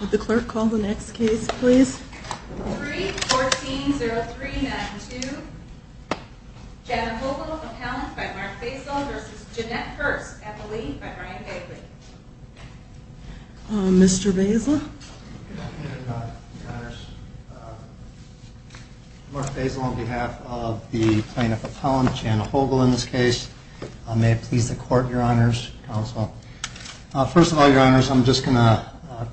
Would the clerk call the next case, please? 3-14-03-92 Janet Hogle, appellant by Mark Bazel v. Jeanette Hurst, appellee by Brian Bagley Mr. Bazel? Mark Bazel on behalf of the plaintiff appellant, Janet Hogle, in this case. May it please the court, your honors, counsel. First of all, your honors, I'm just going to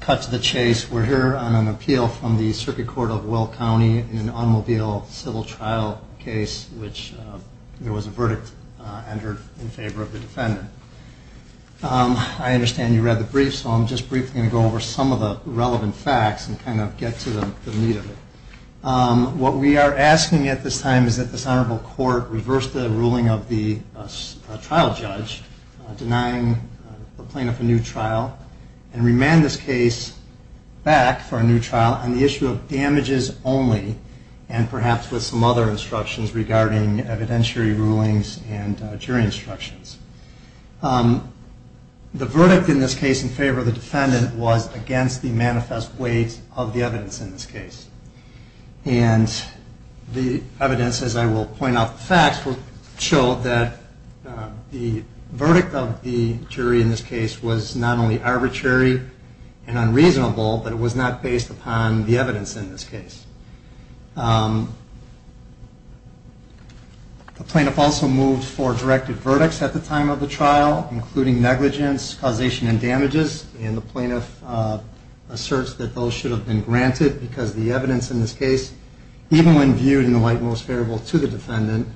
cut to the chase. We're here on an appeal from the Circuit Court of Will County in an automobile civil trial case in which there was a verdict entered in favor of the defendant. I understand you read the brief, so I'm just briefly going to go over some of the relevant facts and kind of get to the meat of it. What we are asking at this time is that this honorable court reverse the ruling of the trial judge denying the plaintiff a new trial and remand this case back for a new trial on the issue of damages only and perhaps with some other instructions regarding evidentiary rulings and jury instructions. The verdict in this case in favor of the defendant was against the manifest weight of the evidence in this case. And the evidence, as I will point out the facts, showed that the verdict of the jury in this case was not only arbitrary and unreasonable, but it was not based upon the evidence in this case. The plaintiff also moved for directed verdicts at the time of the trial, and the plaintiff asserts that those should have been granted because the evidence in this case, even when viewed in the light most favorable to the defendant,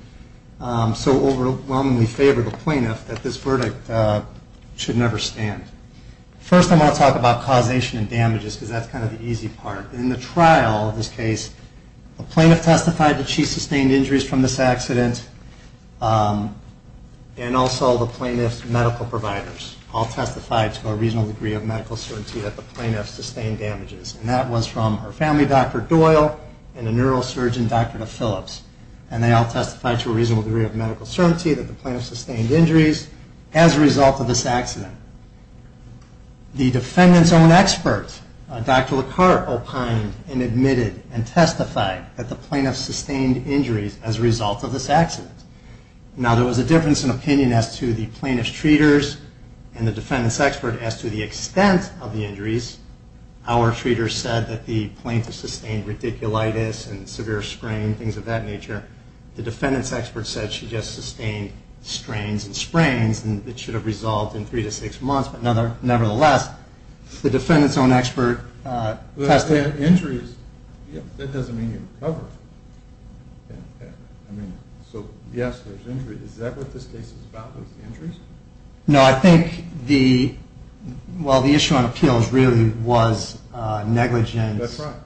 so overwhelmingly favored the plaintiff that this verdict should never stand. First I'm going to talk about causation and damages because that's kind of the easy part. In the trial in this case, the plaintiff testified that she sustained injuries from this accident and also the plaintiff's medical providers all testified to a reasonable degree of medical certainty that the plaintiff sustained damages. And that was from her family doctor, Doyle, and a neurosurgeon, Dr. DePhillips. And they all testified to a reasonable degree of medical certainty that the plaintiff sustained injuries as a result of this accident. The defendant's own expert, Dr. LaCarte, opined and admitted and testified that the plaintiff sustained injuries as a result of this accident. Now there was a difference in opinion as to the plaintiff's treaters and the defendant's expert as to the extent of the injuries. Our treaters said that the plaintiff sustained radiculitis and severe sprain, things of that nature. The defendant's expert said she just sustained strains and sprains and it should have resolved in three to six months. Nevertheless, the defendant's own expert testified. Injuries, that doesn't mean you recover. So yes, there's injuries. Is that what this case is about, injuries? No, I think the issue on appeals really was negligence. That's right.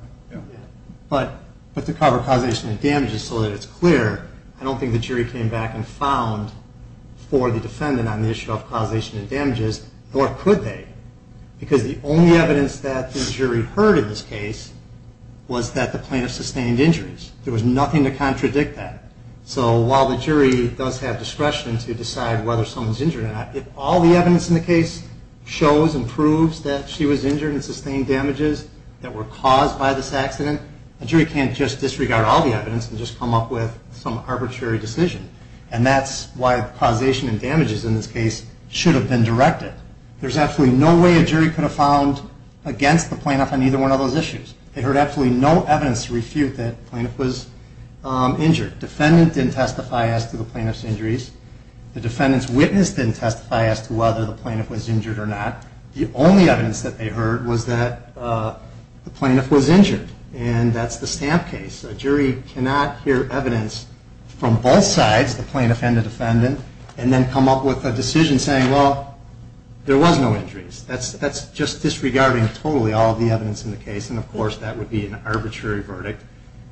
But to cover causation and damages so that it's clear, I don't think the jury came back and found for the defendant on the issue of causation and damages or could they? Because the only evidence that the jury heard in this case was that the plaintiff sustained injuries. There was nothing to contradict that. So while the jury does have discretion to decide whether someone's injured or not, if all the evidence in the case shows and proves that she was injured and sustained damages that were caused by this accident, the jury can't just disregard all the evidence and just come up with some arbitrary decision. And that's why causation and damages in this case should have been directed. There's absolutely no way a jury could have found against the plaintiff on either one of those issues. They heard absolutely no evidence to refute that the plaintiff was injured. The defendant didn't testify as to the plaintiff's injuries. The defendant's witness didn't testify as to whether the plaintiff was injured or not. The only evidence that they heard was that the plaintiff was injured. And that's the Stamp case. A jury cannot hear evidence from both sides, the plaintiff and the defendant, and then come up with a decision saying, well, there was no injuries. That's just disregarding totally all of the evidence in the case. And, of course, that would be an arbitrary verdict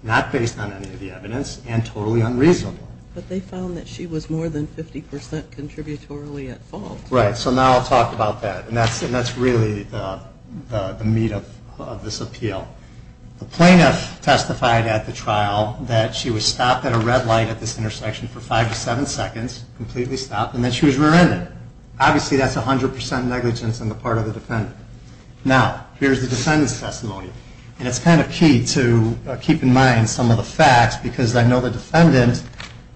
not based on any of the evidence and totally unreasonable. But they found that she was more than 50% contributorily at fault. Right. So now I'll talk about that. And that's really the meat of this appeal. The plaintiff testified at the trial that she was stopped at a red light at this intersection for five to seven seconds, completely stopped, and that she was rear-ended. Obviously, that's 100% negligence on the part of the defendant. Now, here's the defendant's testimony. And it's kind of key to keep in mind some of the facts because I know the defendant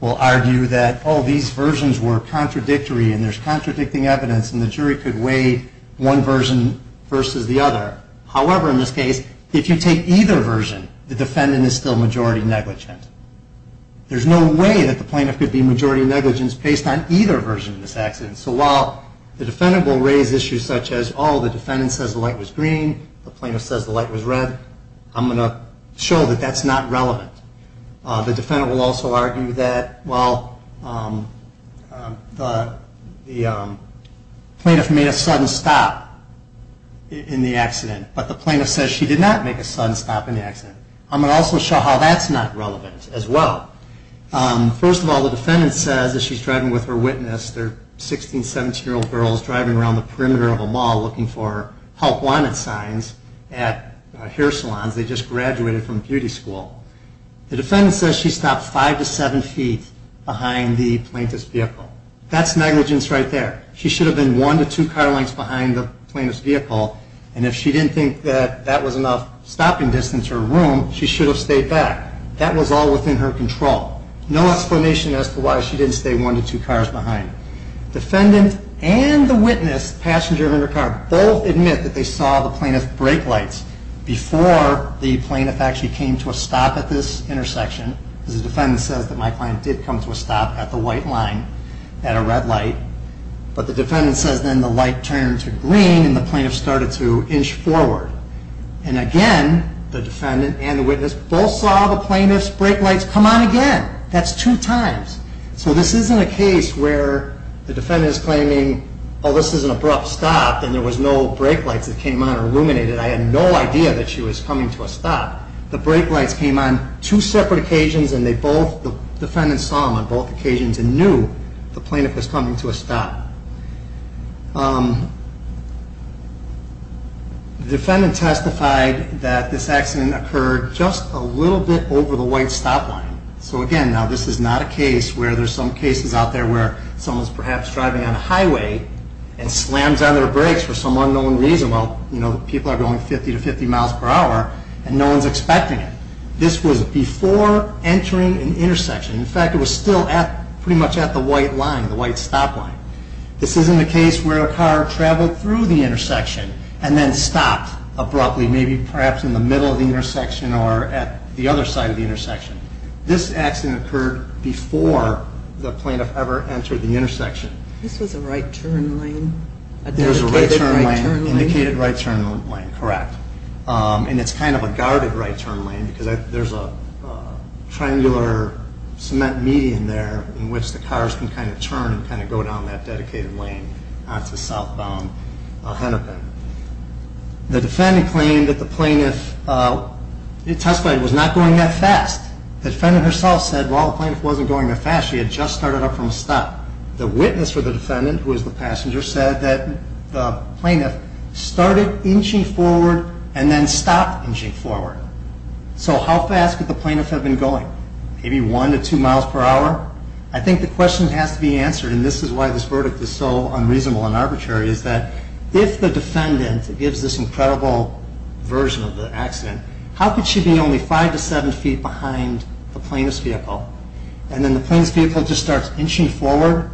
will argue that, oh, these versions were contradictory and there's contradicting evidence and the jury could weigh one version versus the other. However, in this case, if you take either version, the defendant is still majority negligent. There's no way that the plaintiff could be majority negligent based on either version of this accident. So while the defendant will raise issues such as, oh, the defendant says the light was green, the plaintiff says the light was red, I'm going to show that that's not relevant. The defendant will also argue that, well, the plaintiff made a sudden stop in the accident, but the plaintiff says she did not make a sudden stop in the accident. I'm going to also show how that's not relevant as well. First of all, the defendant says as she's driving with her witness, they're 16-, 17-year-old girls driving around the perimeter of a mall looking for help wanted signs at hair salons. They just graduated from beauty school. The defendant says she stopped five to seven feet behind the plaintiff's vehicle. That's negligence right there. She should have been one to two car lengths behind the plaintiff's vehicle and if she didn't think that that was enough stopping distance or room, she should have stayed back. That was all within her control. No explanation as to why she didn't stay one to two cars behind. Defendant and the witness, passenger in her car, both admit that they saw the plaintiff's brake lights before the plaintiff actually came to a stop at this intersection. The defendant says that my client did come to a stop at the white line at a red light, but the defendant says then the light turned to green and the plaintiff started to inch forward. Again, the defendant and the witness both saw the plaintiff's brake lights come on again. That's two times. So this isn't a case where the defendant is claiming, oh, this is an abrupt stop and there was no brake lights that came on or illuminated. I had no idea that she was coming to a stop. The brake lights came on two separate occasions and the defendant saw them on both occasions and knew the plaintiff was coming to a stop. The defendant testified that this accident occurred just a little bit over the white stop line. So again, now this is not a case where there's some cases out there where someone's perhaps driving on a highway and slams on their brakes for some unknown reason. Well, you know, people are going 50 to 50 miles per hour and no one's expecting it. This was before entering an intersection. In fact, it was still pretty much at the white line, the white stop line. This isn't a case where a car traveled through the intersection and then stopped abruptly, maybe perhaps in the middle of the intersection or at the other side of the intersection. This accident occurred before the plaintiff ever entered the intersection. This was a right-turn lane, a dedicated right-turn lane? It was a right-turn lane, an indicated right-turn lane, correct. And it's kind of a guarded right-turn lane because there's a triangular cement median there in which the cars can kind of turn and kind of go down that dedicated lane onto southbound Hennepin. The defendant claimed that the plaintiff testified was not going that fast. The defendant herself said, well, the plaintiff wasn't going that fast. She had just started up from a stop. The witness for the defendant, who was the passenger, said that the plaintiff started inching forward and then stopped inching forward. So how fast could the plaintiff have been going? Maybe one to two miles per hour? I think the question has to be answered, and this is why this verdict is so unreasonable and arbitrary, is that if the defendant gives this incredible version of the accident, how could she be only five to seven feet behind the plaintiff's vehicle? And then the plaintiff's vehicle just starts inching forward,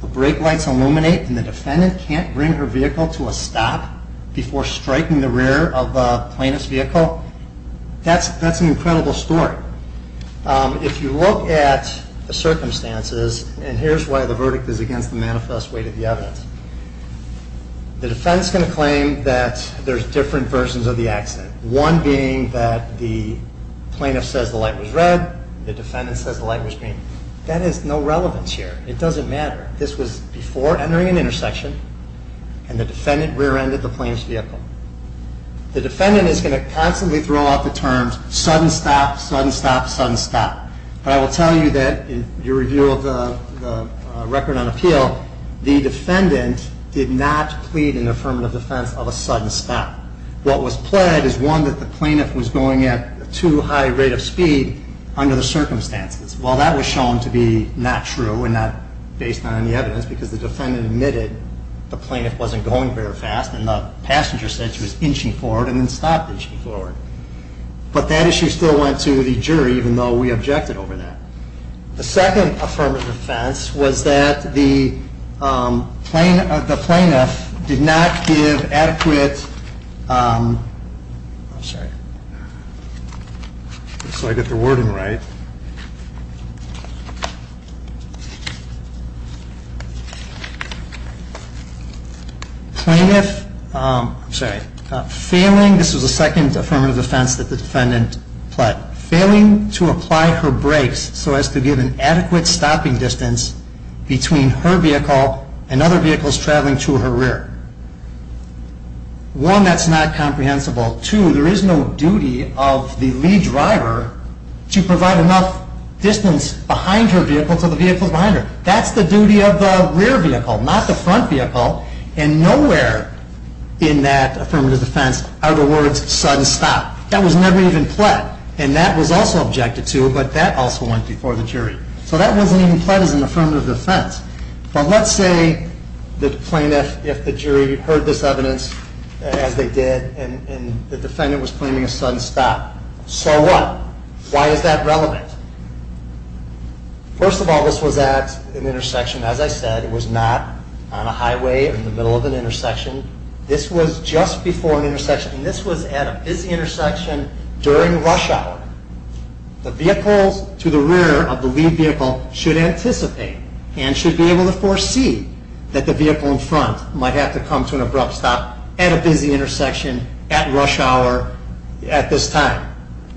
the brake lights illuminate, and the defendant can't bring her vehicle to a stop before striking the rear of the plaintiff's vehicle? That's an incredible story. If you look at the circumstances, and here's why the verdict is against the manifest weight of the evidence. The defendant's going to claim that there's different versions of the accident, one being that the plaintiff says the light was red, the defendant says the light was green. That has no relevance here. It doesn't matter. This was before entering an intersection, and the defendant rear-ended the plaintiff's vehicle. The defendant is going to constantly throw out the terms sudden stop, sudden stop, sudden stop. But I will tell you that in your review of the record on appeal, the defendant did not plead an affirmative defense of a sudden stop. What was pled is one that the plaintiff was going at too high a rate of speed under the circumstances. Well, that was shown to be not true and not based on any evidence because the defendant admitted the plaintiff wasn't going very fast and the passenger said she was inching forward and then stopped inching forward. But that issue still went to the jury even though we objected over that. The second affirmative offense was that the plaintiff did not give adequate... I'm sorry. So I get the wording right. Plaintiff... I'm sorry. Failing... This was the second affirmative offense that the defendant pled. Failing to apply her brakes so as to give an adequate stopping distance between her vehicle and other vehicles traveling to her rear. One, that's not comprehensible. Two, there is no duty of the lead driver to provide enough distance behind her vehicle to the vehicles behind her. That's the duty of the rear vehicle, not the front vehicle. And nowhere in that affirmative defense are the words sudden stop. That was never even pled. And that was also objected to, but that also went before the jury. So that wasn't even pled as an affirmative defense. But let's say the plaintiff, if the jury heard this evidence as they did and the defendant was claiming a sudden stop. So what? Why is that relevant? First of all, this was at an intersection. As I said, it was not on a highway or in the middle of an intersection. This was just before an intersection. This was at a busy intersection during rush hour. The vehicles to the rear of the lead vehicle should anticipate and should be able to foresee that the vehicle in front might have to come to an abrupt stop at a busy intersection at rush hour at this time.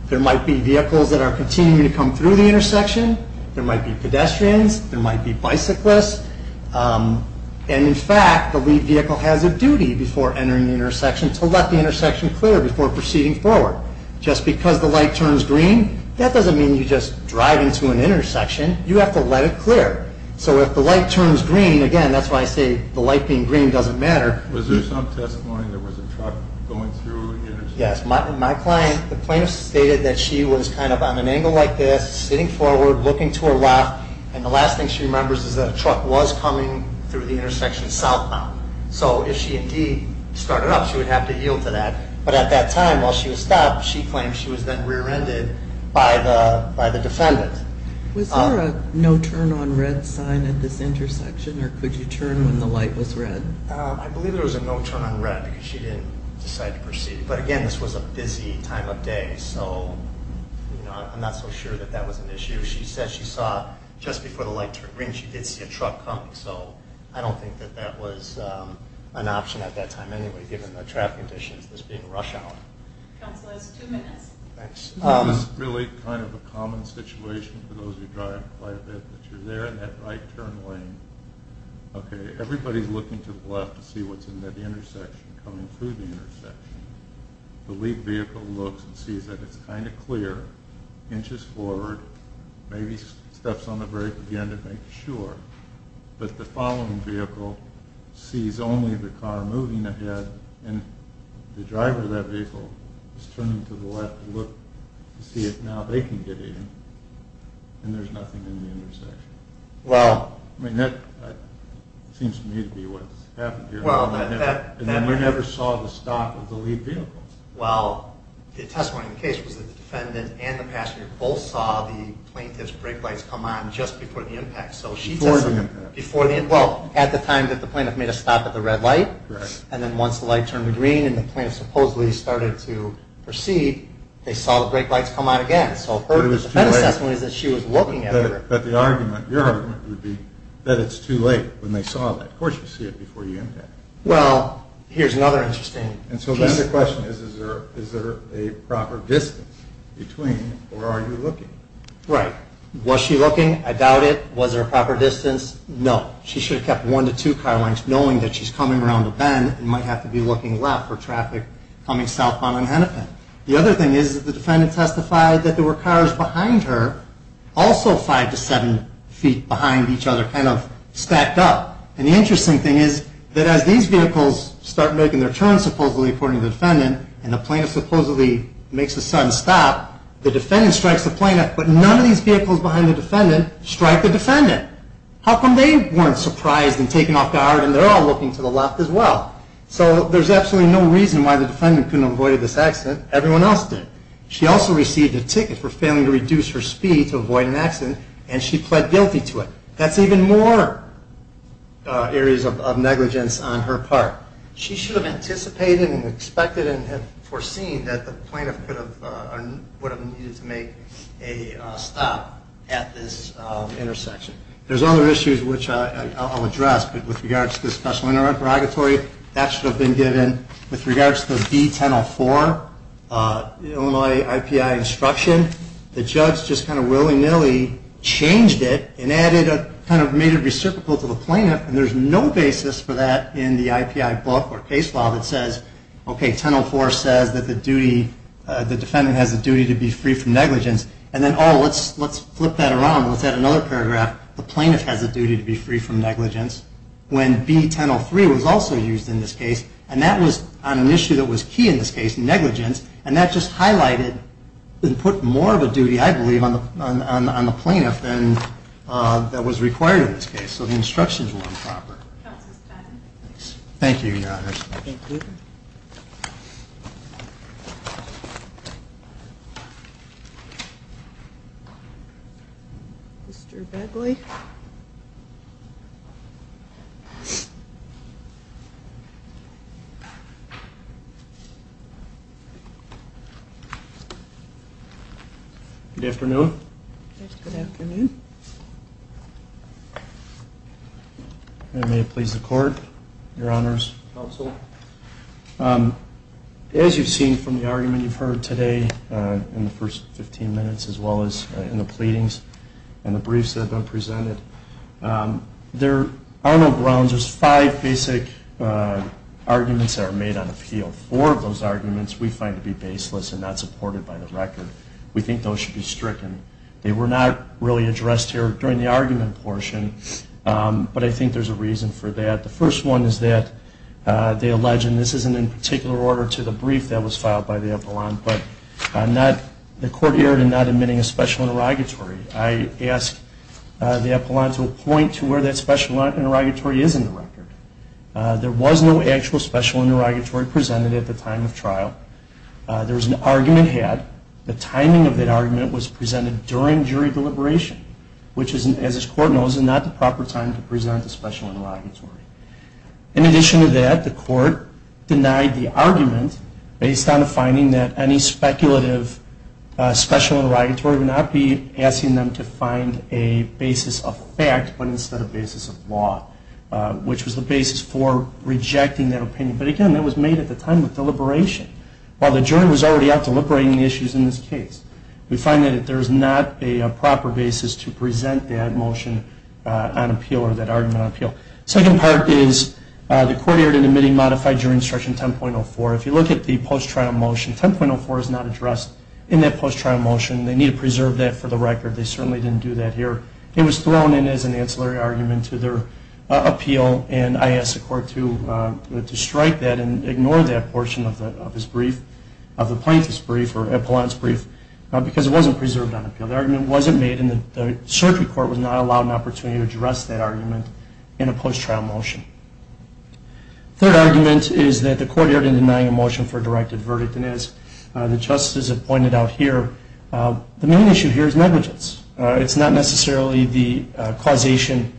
There might be vehicles that are continuing to come through the intersection. There might be pedestrians. And in fact, the lead vehicle has a duty before entering the intersection to let the intersection clear before proceeding forward. Just because the light turns green, that doesn't mean you just drive into an intersection. You have to let it clear. So if the light turns green, again, that's why I say the light being green doesn't matter. Was there some testimony there was a truck going through the intersection? Yes. My client, the plaintiff stated that she was kind of on an angle like this, sitting forward, looking to her left, and the last thing she remembers is that a truck was coming through the intersection southbound. So if she indeed started up, she would have to yield to that. But at that time, while she was stopped, she claimed she was then rear-ended by the defendant. Was there a no-turn-on-red sign at this intersection, or could you turn when the light was red? I believe there was a no-turn-on-red because she didn't decide to proceed. But again, this was a busy time of day, so I'm not so sure that that was an issue. She said she saw, just before the light turned green, she did see a truck coming. So I don't think that that was an option at that time anyway, given the traffic conditions, this being rush hour. Counselors, two minutes. Thanks. This is really kind of a common situation for those who drive quite a bit, that you're there in that right-turn lane. Okay, everybody's looking to the left to see what's in that intersection, coming through the intersection. The lead vehicle looks and sees that it's kind of clear, inches forward, maybe steps on the brake again to make sure. But the following vehicle sees only the car moving ahead, and the driver of that vehicle is turning to the left to look to see if now they can get in, and there's nothing in the intersection. Well... I mean, that seems to me to be what happened here. Well, that... And then we never saw the stop of the lead vehicle. Well, the testimony of the case was that the defendant and the passenger both saw the plaintiff's brake lights come on just before the impact. Before the impact. Well, at the time that the plaintiff made a stop at the red light, and then once the light turned to green and the plaintiff supposedly started to proceed, they saw the brake lights come on again. So her defense testimony is that she was looking at her. But the argument, your argument, would be that it's too late when they saw that. Of course you see it before you impact. Well, here's another interesting... And so then the question is, is there a proper distance between, or are you looking? Right. Was she looking? I doubt it. Was there a proper distance? No. She should have kept one to two car lengths, knowing that she's coming around a bend and might have to be looking left for traffic coming southbound on Hennepin. The other thing is that the defendant testified that there were cars behind her, also five to seven feet behind each other, kind of stacked up. And the interesting thing is that as these vehicles start making their turns, supposedly, according to the defendant, and the plaintiff supposedly makes a sudden stop, the defendant strikes the plaintiff, but none of these vehicles behind the defendant strike the defendant. How come they weren't surprised and taken off guard and they're all looking to the left as well? So there's absolutely no reason why the defendant couldn't have avoided this accident. Everyone else did. She also received a ticket for failing to reduce her speed to avoid an accident, and she pled guilty to it. That's even more areas of negligence on her part. She should have anticipated and expected and foreseen that the plaintiff would have needed to make a stop at this intersection. There's other issues which I'll address, but with regards to the special interrogatory, that should have been given. With regards to the B-1004 Illinois IPI instruction, the judge just kind of willy-nilly changed it and made it reciprocal to the plaintiff, and there's no basis for that in the IPI book or case file that says, OK, 1004 says that the defendant has the duty to be free from negligence. And then, oh, let's flip that around. Let's add another paragraph. The plaintiff has the duty to be free from negligence. When B-1003 was also used in this case, and that was on an issue that was key in this case, negligence, and that just highlighted and put more of a duty, I believe, on the plaintiff than was required in this case. So the instructions were improper. Thank you, Your Honor. Thank you. Mr. Begley. Good afternoon. Good afternoon. Thank you. And may it please the Court, Your Honor's counsel, as you've seen from the argument you've heard today in the first 15 minutes as well as in the pleadings and the briefs that have been presented, there are no grounds. There's five basic arguments that are made on appeal. Four of those arguments we find to be baseless and not supported by the record. We think those should be stricken. They were not really addressed here during the argument portion, but I think there's a reason for that. The first one is that they allege, and this isn't in particular order to the brief that was filed by the epaulon, but the court erred in not admitting a special interrogatory. I ask the epaulon to point to where that special interrogatory is in the record. There was no actual special interrogatory presented at the time of trial. There was an argument had. The timing of that argument was presented during jury deliberation, which, as this Court knows, is not the proper time to present a special interrogatory. In addition to that, the Court denied the argument based on the finding that any speculative special interrogatory would not be asking them to find a basis of fact but instead a basis of law, which was the basis for rejecting that opinion. But, again, that was made at the time of deliberation. While the jury was already out deliberating the issues in this case, we find that there is not a proper basis to present that motion on appeal or that argument on appeal. The second part is the court erred in admitting modified jury instruction 10.04. If you look at the post-trial motion, 10.04 is not addressed in that post-trial motion. They need to preserve that for the record. They certainly didn't do that here. It was thrown in as an ancillary argument to their appeal, and I asked the Court to strike that and ignore that portion of the plaintiff's brief or Epelon's brief because it wasn't preserved on appeal. The argument wasn't made and the surgery court was not allowed an opportunity to address that argument in a post-trial motion. The third argument is that the Court erred in denying a motion for a directed verdict, and as the justices have pointed out here, the main issue here is negligence. It's not necessarily the causation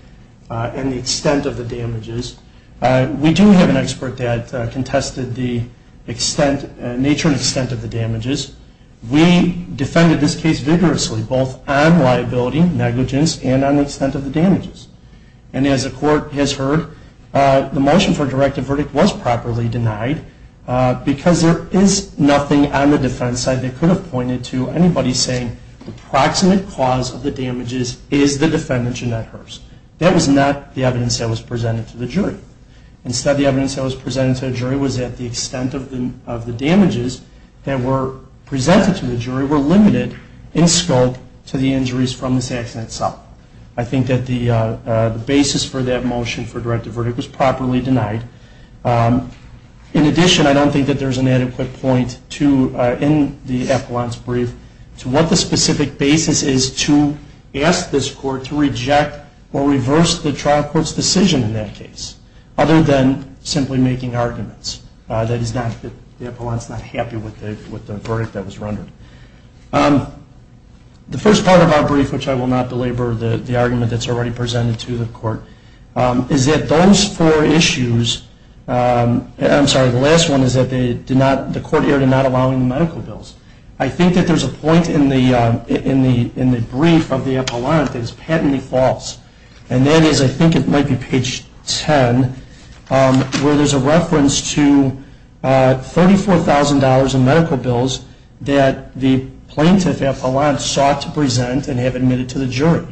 and the extent of the damages. We do have an expert that contested the nature and extent of the damages. We defended this case vigorously, both on liability, negligence, and on the extent of the damages. And as the Court has heard, the motion for a directed verdict was properly denied because there is nothing on the defense side that could have pointed to anybody saying the proximate cause of the damages is the defendant, Jeanette Hurst. That was not the evidence that was presented to the jury. Instead, the evidence that was presented to the jury was that the extent of the damages that were presented to the jury were limited in scope to the injuries from this accident itself. I think that the basis for that motion for a directed verdict was properly denied. In addition, I don't think that there's an adequate point in the Epelon's brief to what the specific basis is to ask this Court to reject or reverse the trial court's decision in that case, other than simply making arguments. The Epelon is not happy with the verdict that was rendered. The first part of our brief, which I will not belabor the argument that's already presented to the Court, is that those four issues, I'm sorry, the last one is that the Court erred in not allowing medical bills. I think that there's a point in the brief of the Epelon that is patently false. And that is, I think it might be page 10, where there's a reference to $34,000 in medical bills that the plaintiff, Epelon, sought to present and have admitted to the jury.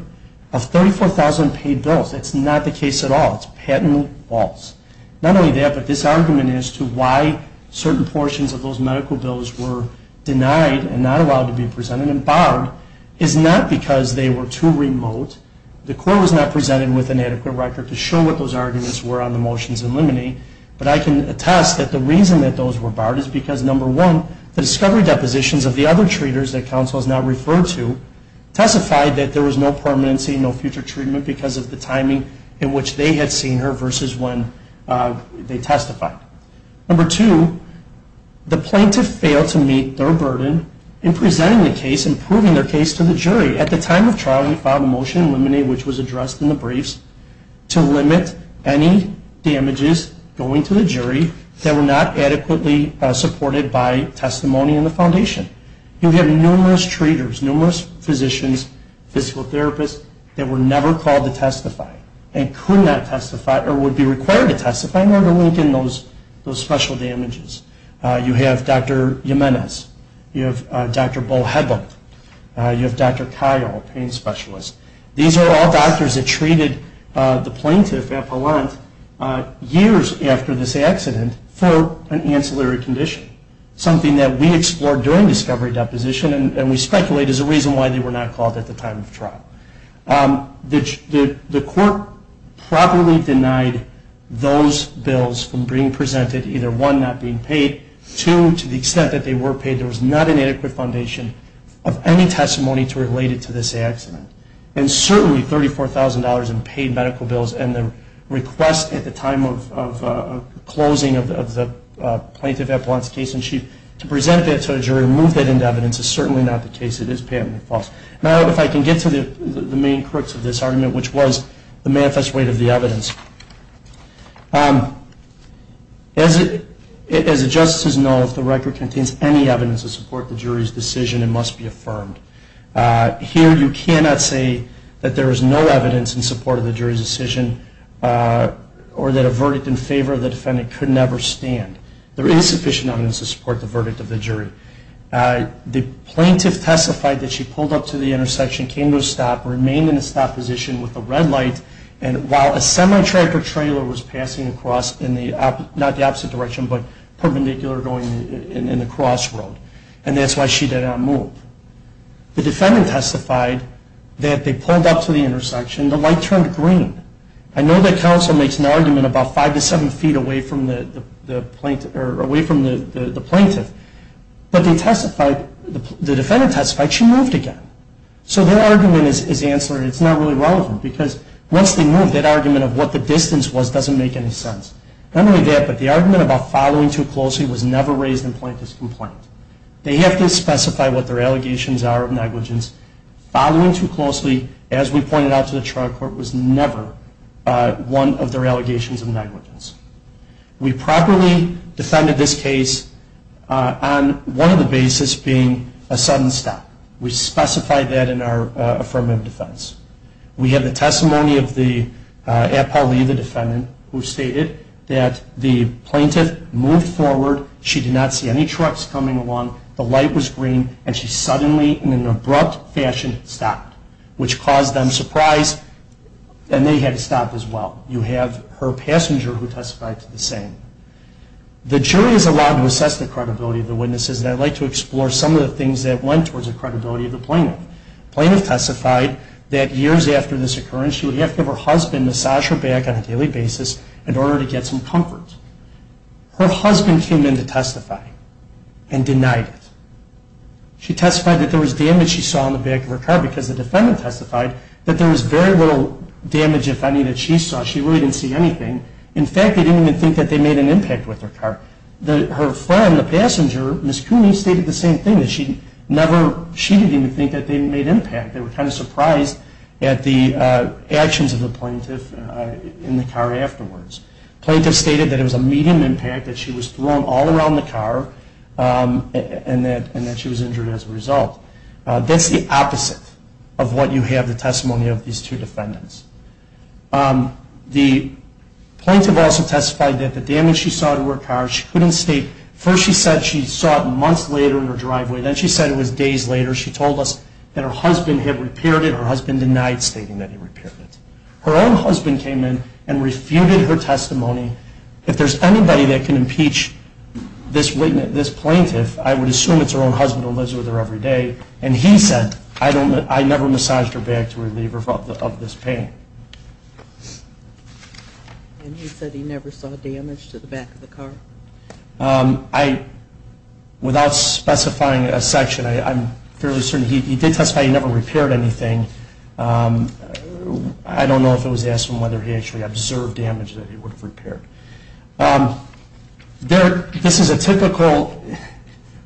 Of 34,000 paid bills, that's not the case at all. It's patently false. Not only that, but this argument as to why certain portions of those medical bills were denied and not allowed to be presented and barred is not because they were too remote. The Court was not presented with an adequate record to show what those arguments were on the motions in limine. But I can attest that the reason that those were barred is because, number one, the discovery depositions of the other treaters that counsel has now referred to testified that there was no permanency, no future treatment because of the timing in which they had seen her versus when they testified. Number two, the plaintiff failed to meet their burden in presenting the case and proving their case to the jury. At the time of trial, we filed a motion in limine, which was addressed in the briefs, to limit any damages going to the jury that were not adequately supported by testimony in the foundation. You have numerous treaters, numerous physicians, physical therapists, that were never called to testify and could not testify or would be required to testify in order to link in those special damages. You have Dr. Jimenez. You have Dr. Bohegal. You have Dr. Kyle, a pain specialist. These are all doctors that treated the plaintiff at Pallant years after this accident for an ancillary condition, something that we explored during discovery deposition and we speculate is a reason why they were not called at the time of trial. The court properly denied those bills from being presented, either one, not being paid, two, to the extent that they were paid, there was not an adequate foundation of any testimony to relate it to this accident. And certainly $34,000 in paid medical bills and the request at the time of closing of the plaintiff at Pallant's case in chief to present that to a jury and move that into evidence is certainly not the case. It is patently false. Now, if I can get to the main crux of this argument, which was the manifest weight of the evidence. As the justices know, if the record contains any evidence to support the jury's decision, it must be affirmed. Here you cannot say that there is no evidence in support of the jury's decision or that a verdict in favor of the defendant could never stand. There is sufficient evidence to support the verdict of the jury. The plaintiff testified that she pulled up to the intersection, came to a stop, remained in a stop position with a red light, and while a semi-tracker trailer was passing across, not the opposite direction, but perpendicular going in the crossroad. And that's why she did not move. The defendant testified that they pulled up to the intersection, the light turned green. I know that counsel makes an argument about five to seven feet away from the plaintiff, but the defendant testified she moved again. So their argument is ancillary. It's not really relevant because once they move, that argument of what the distance was doesn't make any sense. Not only that, but the argument about following too closely was never raised in the plaintiff's complaint. They have to specify what their allegations are of negligence. Following too closely, as we pointed out to the trial court, was never one of their allegations of negligence. We properly defended this case on one of the bases being a sudden stop. We specified that in our affirmative defense. We had the testimony of the appellee, the defendant, who stated that the plaintiff moved forward. She did not see any trucks coming along. The light was green, and she suddenly, in an abrupt fashion, stopped, which caused them surprise, and they had to stop as well. You have her passenger who testified to the same. The jury is allowed to assess the credibility of the witnesses, and I'd like to explore some of the things that went towards the credibility of the plaintiff. The plaintiff testified that years after this occurrence, she would have to have her husband massage her back on a daily basis in order to get some comfort. Her husband came in to testify and denied it. She testified that there was damage she saw on the back of her car because the defendant testified that there was very little damage, if any, that she saw. She really didn't see anything. In fact, they didn't even think that they made an impact with her car. Her friend, the passenger, Ms. Cooney, stated the same thing. She didn't even think that they made impact. They were kind of surprised at the actions of the plaintiff in the car afterwards. The plaintiff stated that it was a medium impact, that she was thrown all around the car, and that she was injured as a result. That's the opposite of what you have in the testimony of these two defendants. The plaintiff also testified that the damage she saw to her car, she couldn't state. First she said she saw it months later in her driveway. Then she said it was days later. She told us that her husband had repaired it. Her husband denied stating that he repaired it. Her own husband came in and refuted her testimony. If there's anybody that can impeach this plaintiff, I would assume it's her own husband who lives with her every day. And he said, I never massaged her back to relieve her of this pain. And he said he never saw damage to the back of the car? Without specifying a section, I'm fairly certain he did testify he never repaired anything. I don't know if it was asked of him whether he actually observed damage that he would have repaired. This is a typical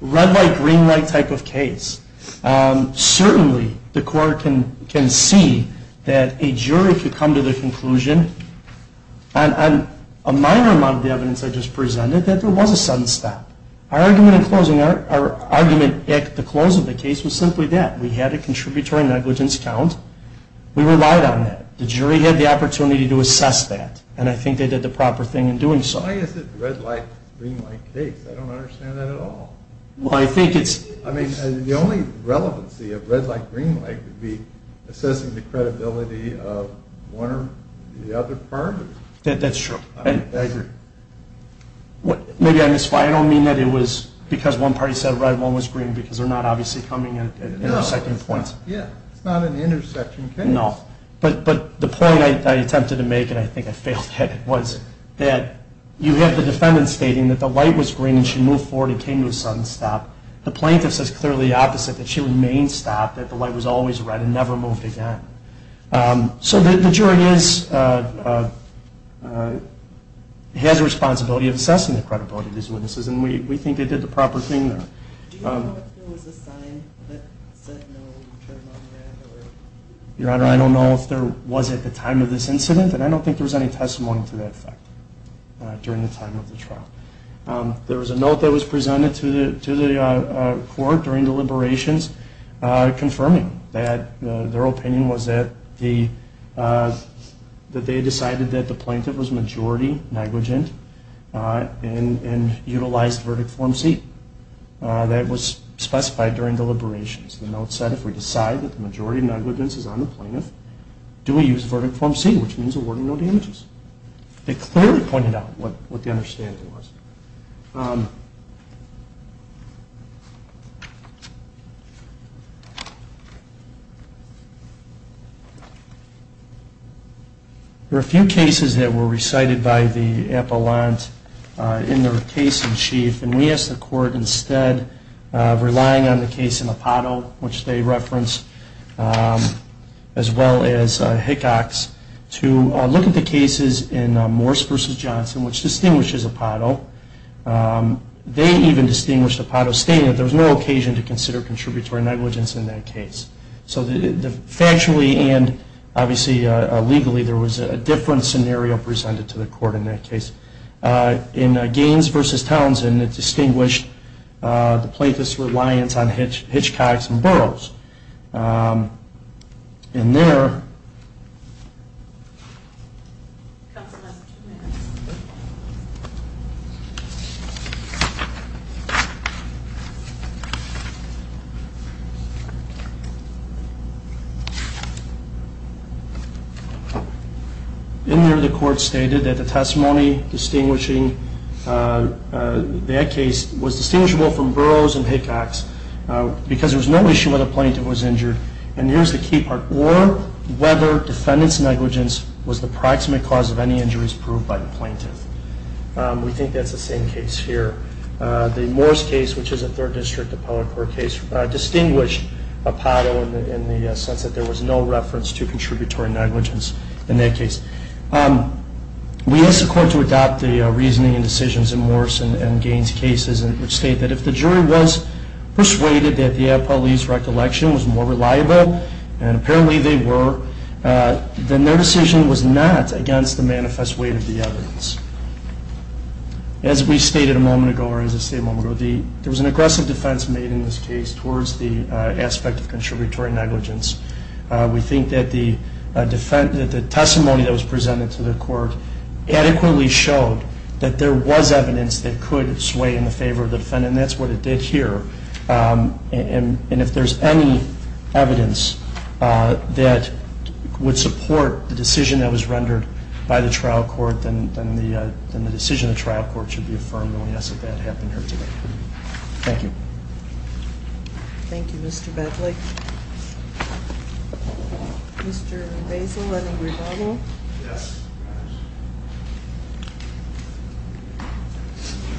red light, green light type of case. Certainly the court can see that a jury could come to the conclusion, on a minor amount of the evidence I just presented, that there was a sudden stop. Our argument at the close of the case was simply that. We had a contributory negligence count. We relied on that. The jury had the opportunity to assess that. And I think they did the proper thing in doing so. Why is it red light, green light case? I don't understand that at all. Well, I think it's... I mean, the only relevancy of red light, green light, would be assessing the credibility of one or the other party. That's true. I agree. Maybe I misspoke. I don't mean that it was because one party said red, one was green, because they're not obviously coming at intersecting points. No. Yeah. It's not an intersection case. No. But the point I attempted to make, and I think I failed at it, was that you have the defendant stating that the light was green and she moved forward and came to a sudden stop. The plaintiff says clearly the opposite, that she remained stopped, that the light was always red and never moved again. So the jury has a responsibility of assessing the credibility of these witnesses, and we think they did the proper thing there. Do you know if there was a sign that said no terminology? Your Honor, I don't know if there was at the time of this incident, and I don't think there was any testimony to that fact during the time of the trial. There was a note that was presented to the court during deliberations confirming that their opinion was that they decided that the plaintiff was majority negligent and utilized Verdict Form C. That was specified during deliberations. The note said if we decide that the majority negligence is on the plaintiff, do we use Verdict Form C, which means awarding no damages. They clearly pointed out what the understanding was. There are a few cases that were recited by the appellant in their case in chief, and we asked the court instead of relying on the case in Apatow, which they referenced, as well as Hickox, to look at the cases in Morse v. Johnson, which distinguishes Apatow, they even distinguished Apatow stating that there was no occasion to consider contributory negligence in that case. So factually and obviously legally, there was a different scenario presented to the court in that case. In Gaines v. Townsend, it distinguished the plaintiff's reliance on Hitchcocks and Burroughs. In there, the court stated that the testimony distinguishing that case was distinguishable from Burroughs and Hickox because there was no issue whether the plaintiff was injured, and here's the key part, or whether defendant's negligence was the proximate cause of any injuries proved by the plaintiff. We think that's the same case here. The Morse case, which is a third district appellate court case, distinguished Apatow in the sense that there was no reference to contributory negligence in that case. We asked the court to adopt the reasoning and decisions in Morse and Gaines cases, which stated that if the jury was persuaded that the appellee's recollection was more reliable, and apparently they were, then their decision was not against the manifest weight of the evidence. As we stated a moment ago, or as I stated a moment ago, there was an aggressive defense made in this case towards the aspect of contributory negligence. We think that the testimony that was presented to the court adequately showed that there was evidence that could sway in the favor of the defendant, and that's what it did here, and if there's any evidence that would support the decision that was rendered by the trial court, then the decision of the trial court should be affirmed, and we ask that that happen here today. Thank you. Thank you, Mr. Bedley. Mr. Basile, any rebuttal? Yes.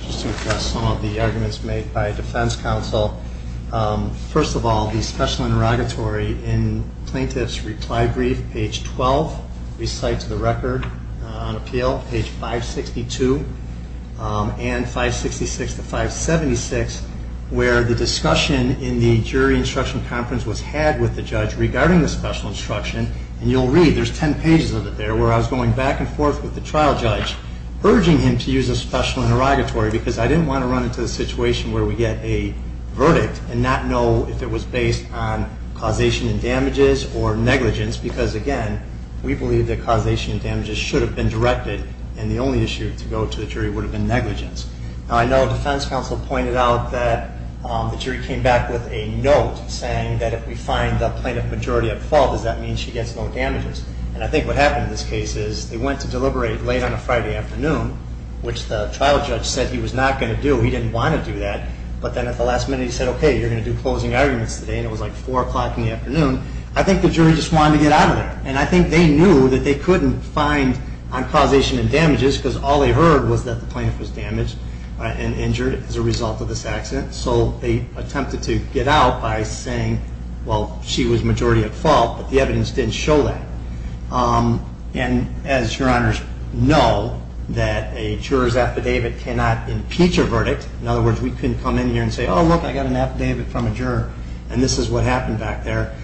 Just to address some of the arguments made by defense counsel. First of all, the special interrogatory in plaintiff's reply brief, page 12, recites the record on appeal, page 562, and 566 to 576, where the discussion in the jury instruction conference was had with the judge regarding the special instruction, and you'll read, there's ten pages of it there, where I was going back and forth with the trial judge, urging him to use a special interrogatory, because I didn't want to run into the situation where we get a verdict and not know if it was based on causation and damages or negligence, because, again, we believe that causation and damages should have been directed, and the only issue to go to the jury would have been negligence. Now, I know defense counsel pointed out that the jury came back with a note saying that if we find the plaintiff majority at fault, does that mean she gets no damages, and I think what happened in this case is they went to deliberate late on a Friday afternoon, which the trial judge said he was not going to do, he didn't want to do that, but then at the last minute he said, okay, you're going to do closing arguments today, and it was like 4 o'clock in the afternoon. I think the jury just wanted to get out of there, and I think they knew that they couldn't find on causation and damages, because all they heard was that the plaintiff was damaged and injured as a result of this accident, so they attempted to get out by saying, well, she was majority at fault, but the evidence didn't show that, and as your honors know, that a juror's affidavit cannot impeach a verdict, in other words, we couldn't come in here and say, oh, look, I got an affidavit from a juror, and this is what happened back there.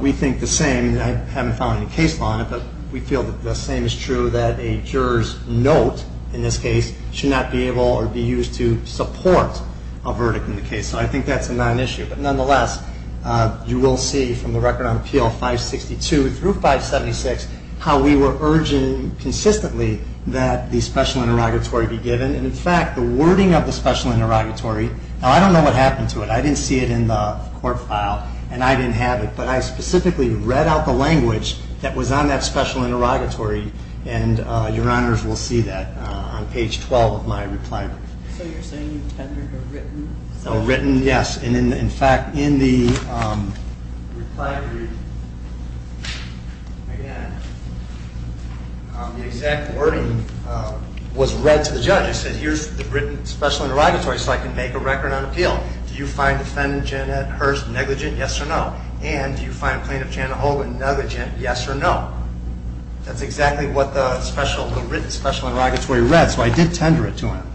We think the same, and I haven't found any case law on it, but we feel that the same is true, that a juror's note, in this case, should not be able or be used to support a verdict in the case, so I think that's a nonissue, but nonetheless, you will see from the record on appeal 562 through 576, how we were urging consistently that the special interrogatory be given, and in fact, the wording of the special interrogatory, now, I don't know what happened to it. I didn't see it in the court file, and I didn't have it, but I specifically read out the language that was on that special interrogatory, and your honors will see that on page 12 of my reply brief. So you're saying you tendered a written special interrogatory? A written, yes, and in fact, in the reply brief, again, the exact wording was read to the judge. It said, here's the written special interrogatory, so I can make a record on appeal. Do you find defendant Janet Hurst negligent? Yes or no. And do you find plaintiff Janet Hogan negligent? Yes or no. That's exactly what the written special interrogatory read, so I did tender it to him.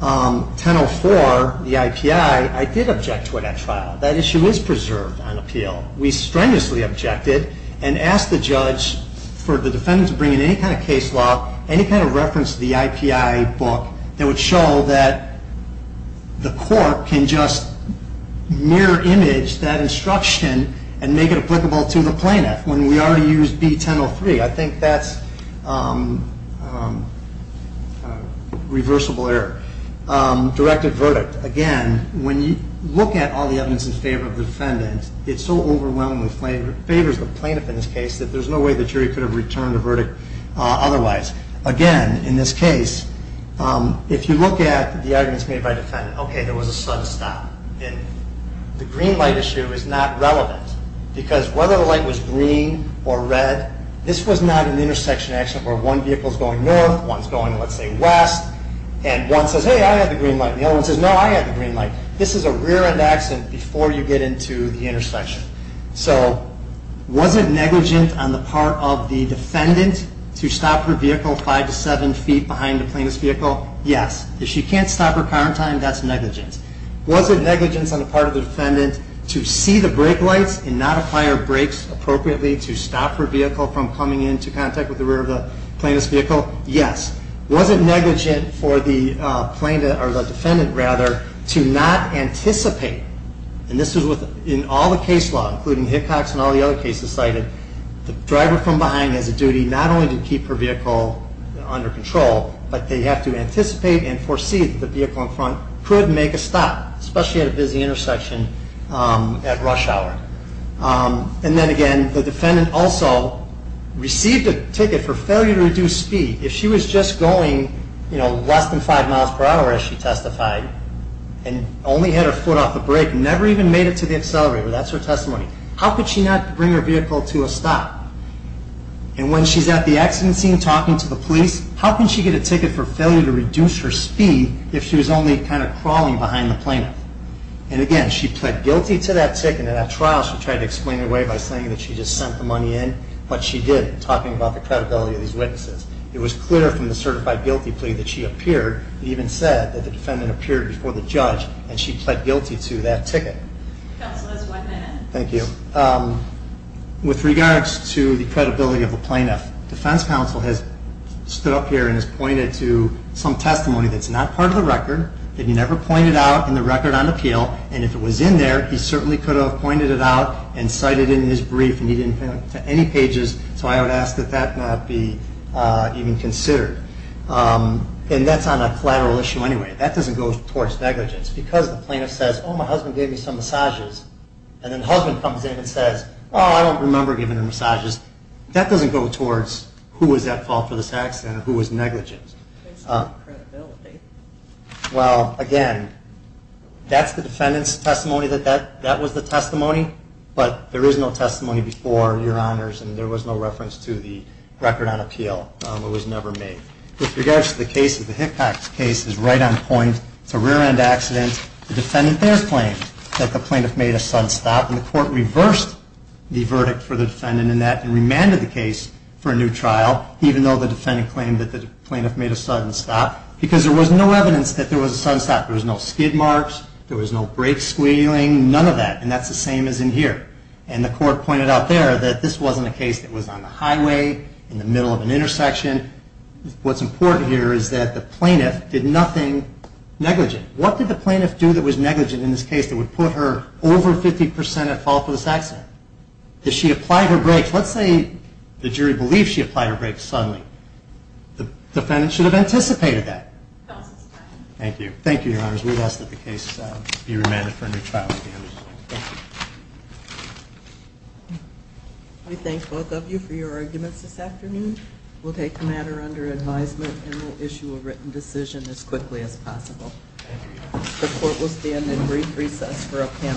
1004, the IPI, I did object to it at trial. That issue is preserved on appeal. We strenuously objected and asked the judge for the defendant to bring in any kind of case law, any kind of reference to the IPI book that would show that the court can just mirror image that instruction and make it applicable to the plaintiff. When we already used B1003, I think that's a reversible error. Directed verdict. Again, when you look at all the evidence in favor of the defendant, it so overwhelmingly favors the plaintiff in this case that there's no way the jury could have returned the verdict otherwise. Again, in this case, if you look at the arguments made by the defendant, okay, there was a sudden stop, and the green light issue is not relevant because whether the light was green or red, this was not an intersection accident where one vehicle is going north, one is going, let's say, west, and one says, hey, I have the green light, and the other one says, no, I have the green light. This is a rear-end accident before you get into the intersection. So was it negligent on the part of the defendant to stop her vehicle five to seven feet behind the plaintiff's vehicle? Yes. If she can't stop her car in time, that's negligent. Was it negligent on the part of the defendant to see the brake lights and not apply her brakes appropriately to stop her vehicle from coming into contact with the rear of the plaintiff's vehicle? Yes. Was it negligent for the defendant to not anticipate, and this was in all the case law, including Hickox and all the other cases cited, the driver from behind has a duty not only to keep her vehicle under control, but they have to anticipate and foresee that the vehicle in front could make a stop, especially at a busy intersection at rush hour. And then again, the defendant also received a ticket for failure to reduce speed. If she was just going, you know, less than five miles per hour, as she testified, and only had her foot off the brake and never even made it to the accelerator, that's her testimony, how could she not bring her vehicle to a stop? And when she's at the accident scene talking to the police, how can she get a ticket for failure to reduce her speed if she was only kind of crawling behind the plaintiff? And again, she pled guilty to that ticket in that trial. She tried to explain away by saying that she just sent the money in, but she didn't, talking about the credibility of these witnesses. It was clear from the certified guilty plea that she appeared, and even said that the defendant appeared before the judge, and she pled guilty to that ticket. Counsel, that's one minute. Thank you. With regards to the credibility of the plaintiff, the defense counsel has stood up here and has pointed to some testimony that's not part of the record, that he never pointed out in the record on appeal, and if it was in there, he certainly could have pointed it out and cited it in his brief, and he didn't point it to any pages, so I would ask that that not be even considered. And that's on a collateral issue anyway. That doesn't go towards negligence, because the plaintiff says, oh, my husband gave me some massages, and then the husband comes in and says, oh, I don't remember giving him massages. That doesn't go towards who was at fault for this accident and who was negligent. It's not credibility. Well, again, that's the defendant's testimony that that was the testimony, but there is no testimony before, Your Honors, and there was no reference to the record on appeal. It was never made. With regards to the case, the Hickcock case is right on point. It's a rear-end accident. The defendant there claimed that the plaintiff made a sudden stop, and the court reversed the verdict for the defendant in that and remanded the case for a new trial, even though the defendant claimed that the plaintiff made a sudden stop, because there was no evidence that there was a sudden stop. There was no skid marks. There was no brake squealing, none of that, and that's the same as in here. And the court pointed out there that this wasn't a case that was on the highway, in the middle of an intersection. What's important here is that the plaintiff did nothing negligent. What did the plaintiff do that was negligent in this case that would put her over 50% at fault for this accident? Did she apply for brakes? Let's say the jury believes she applied for brakes suddenly. The defendant should have anticipated that. Thank you. Thank you, Your Honors. We ask that the case be remanded for a new trial. We thank both of you for your arguments this afternoon. We'll take the matter under advisement and we'll issue a written decision as quickly as possible. The court will stand in brief recess for a panel.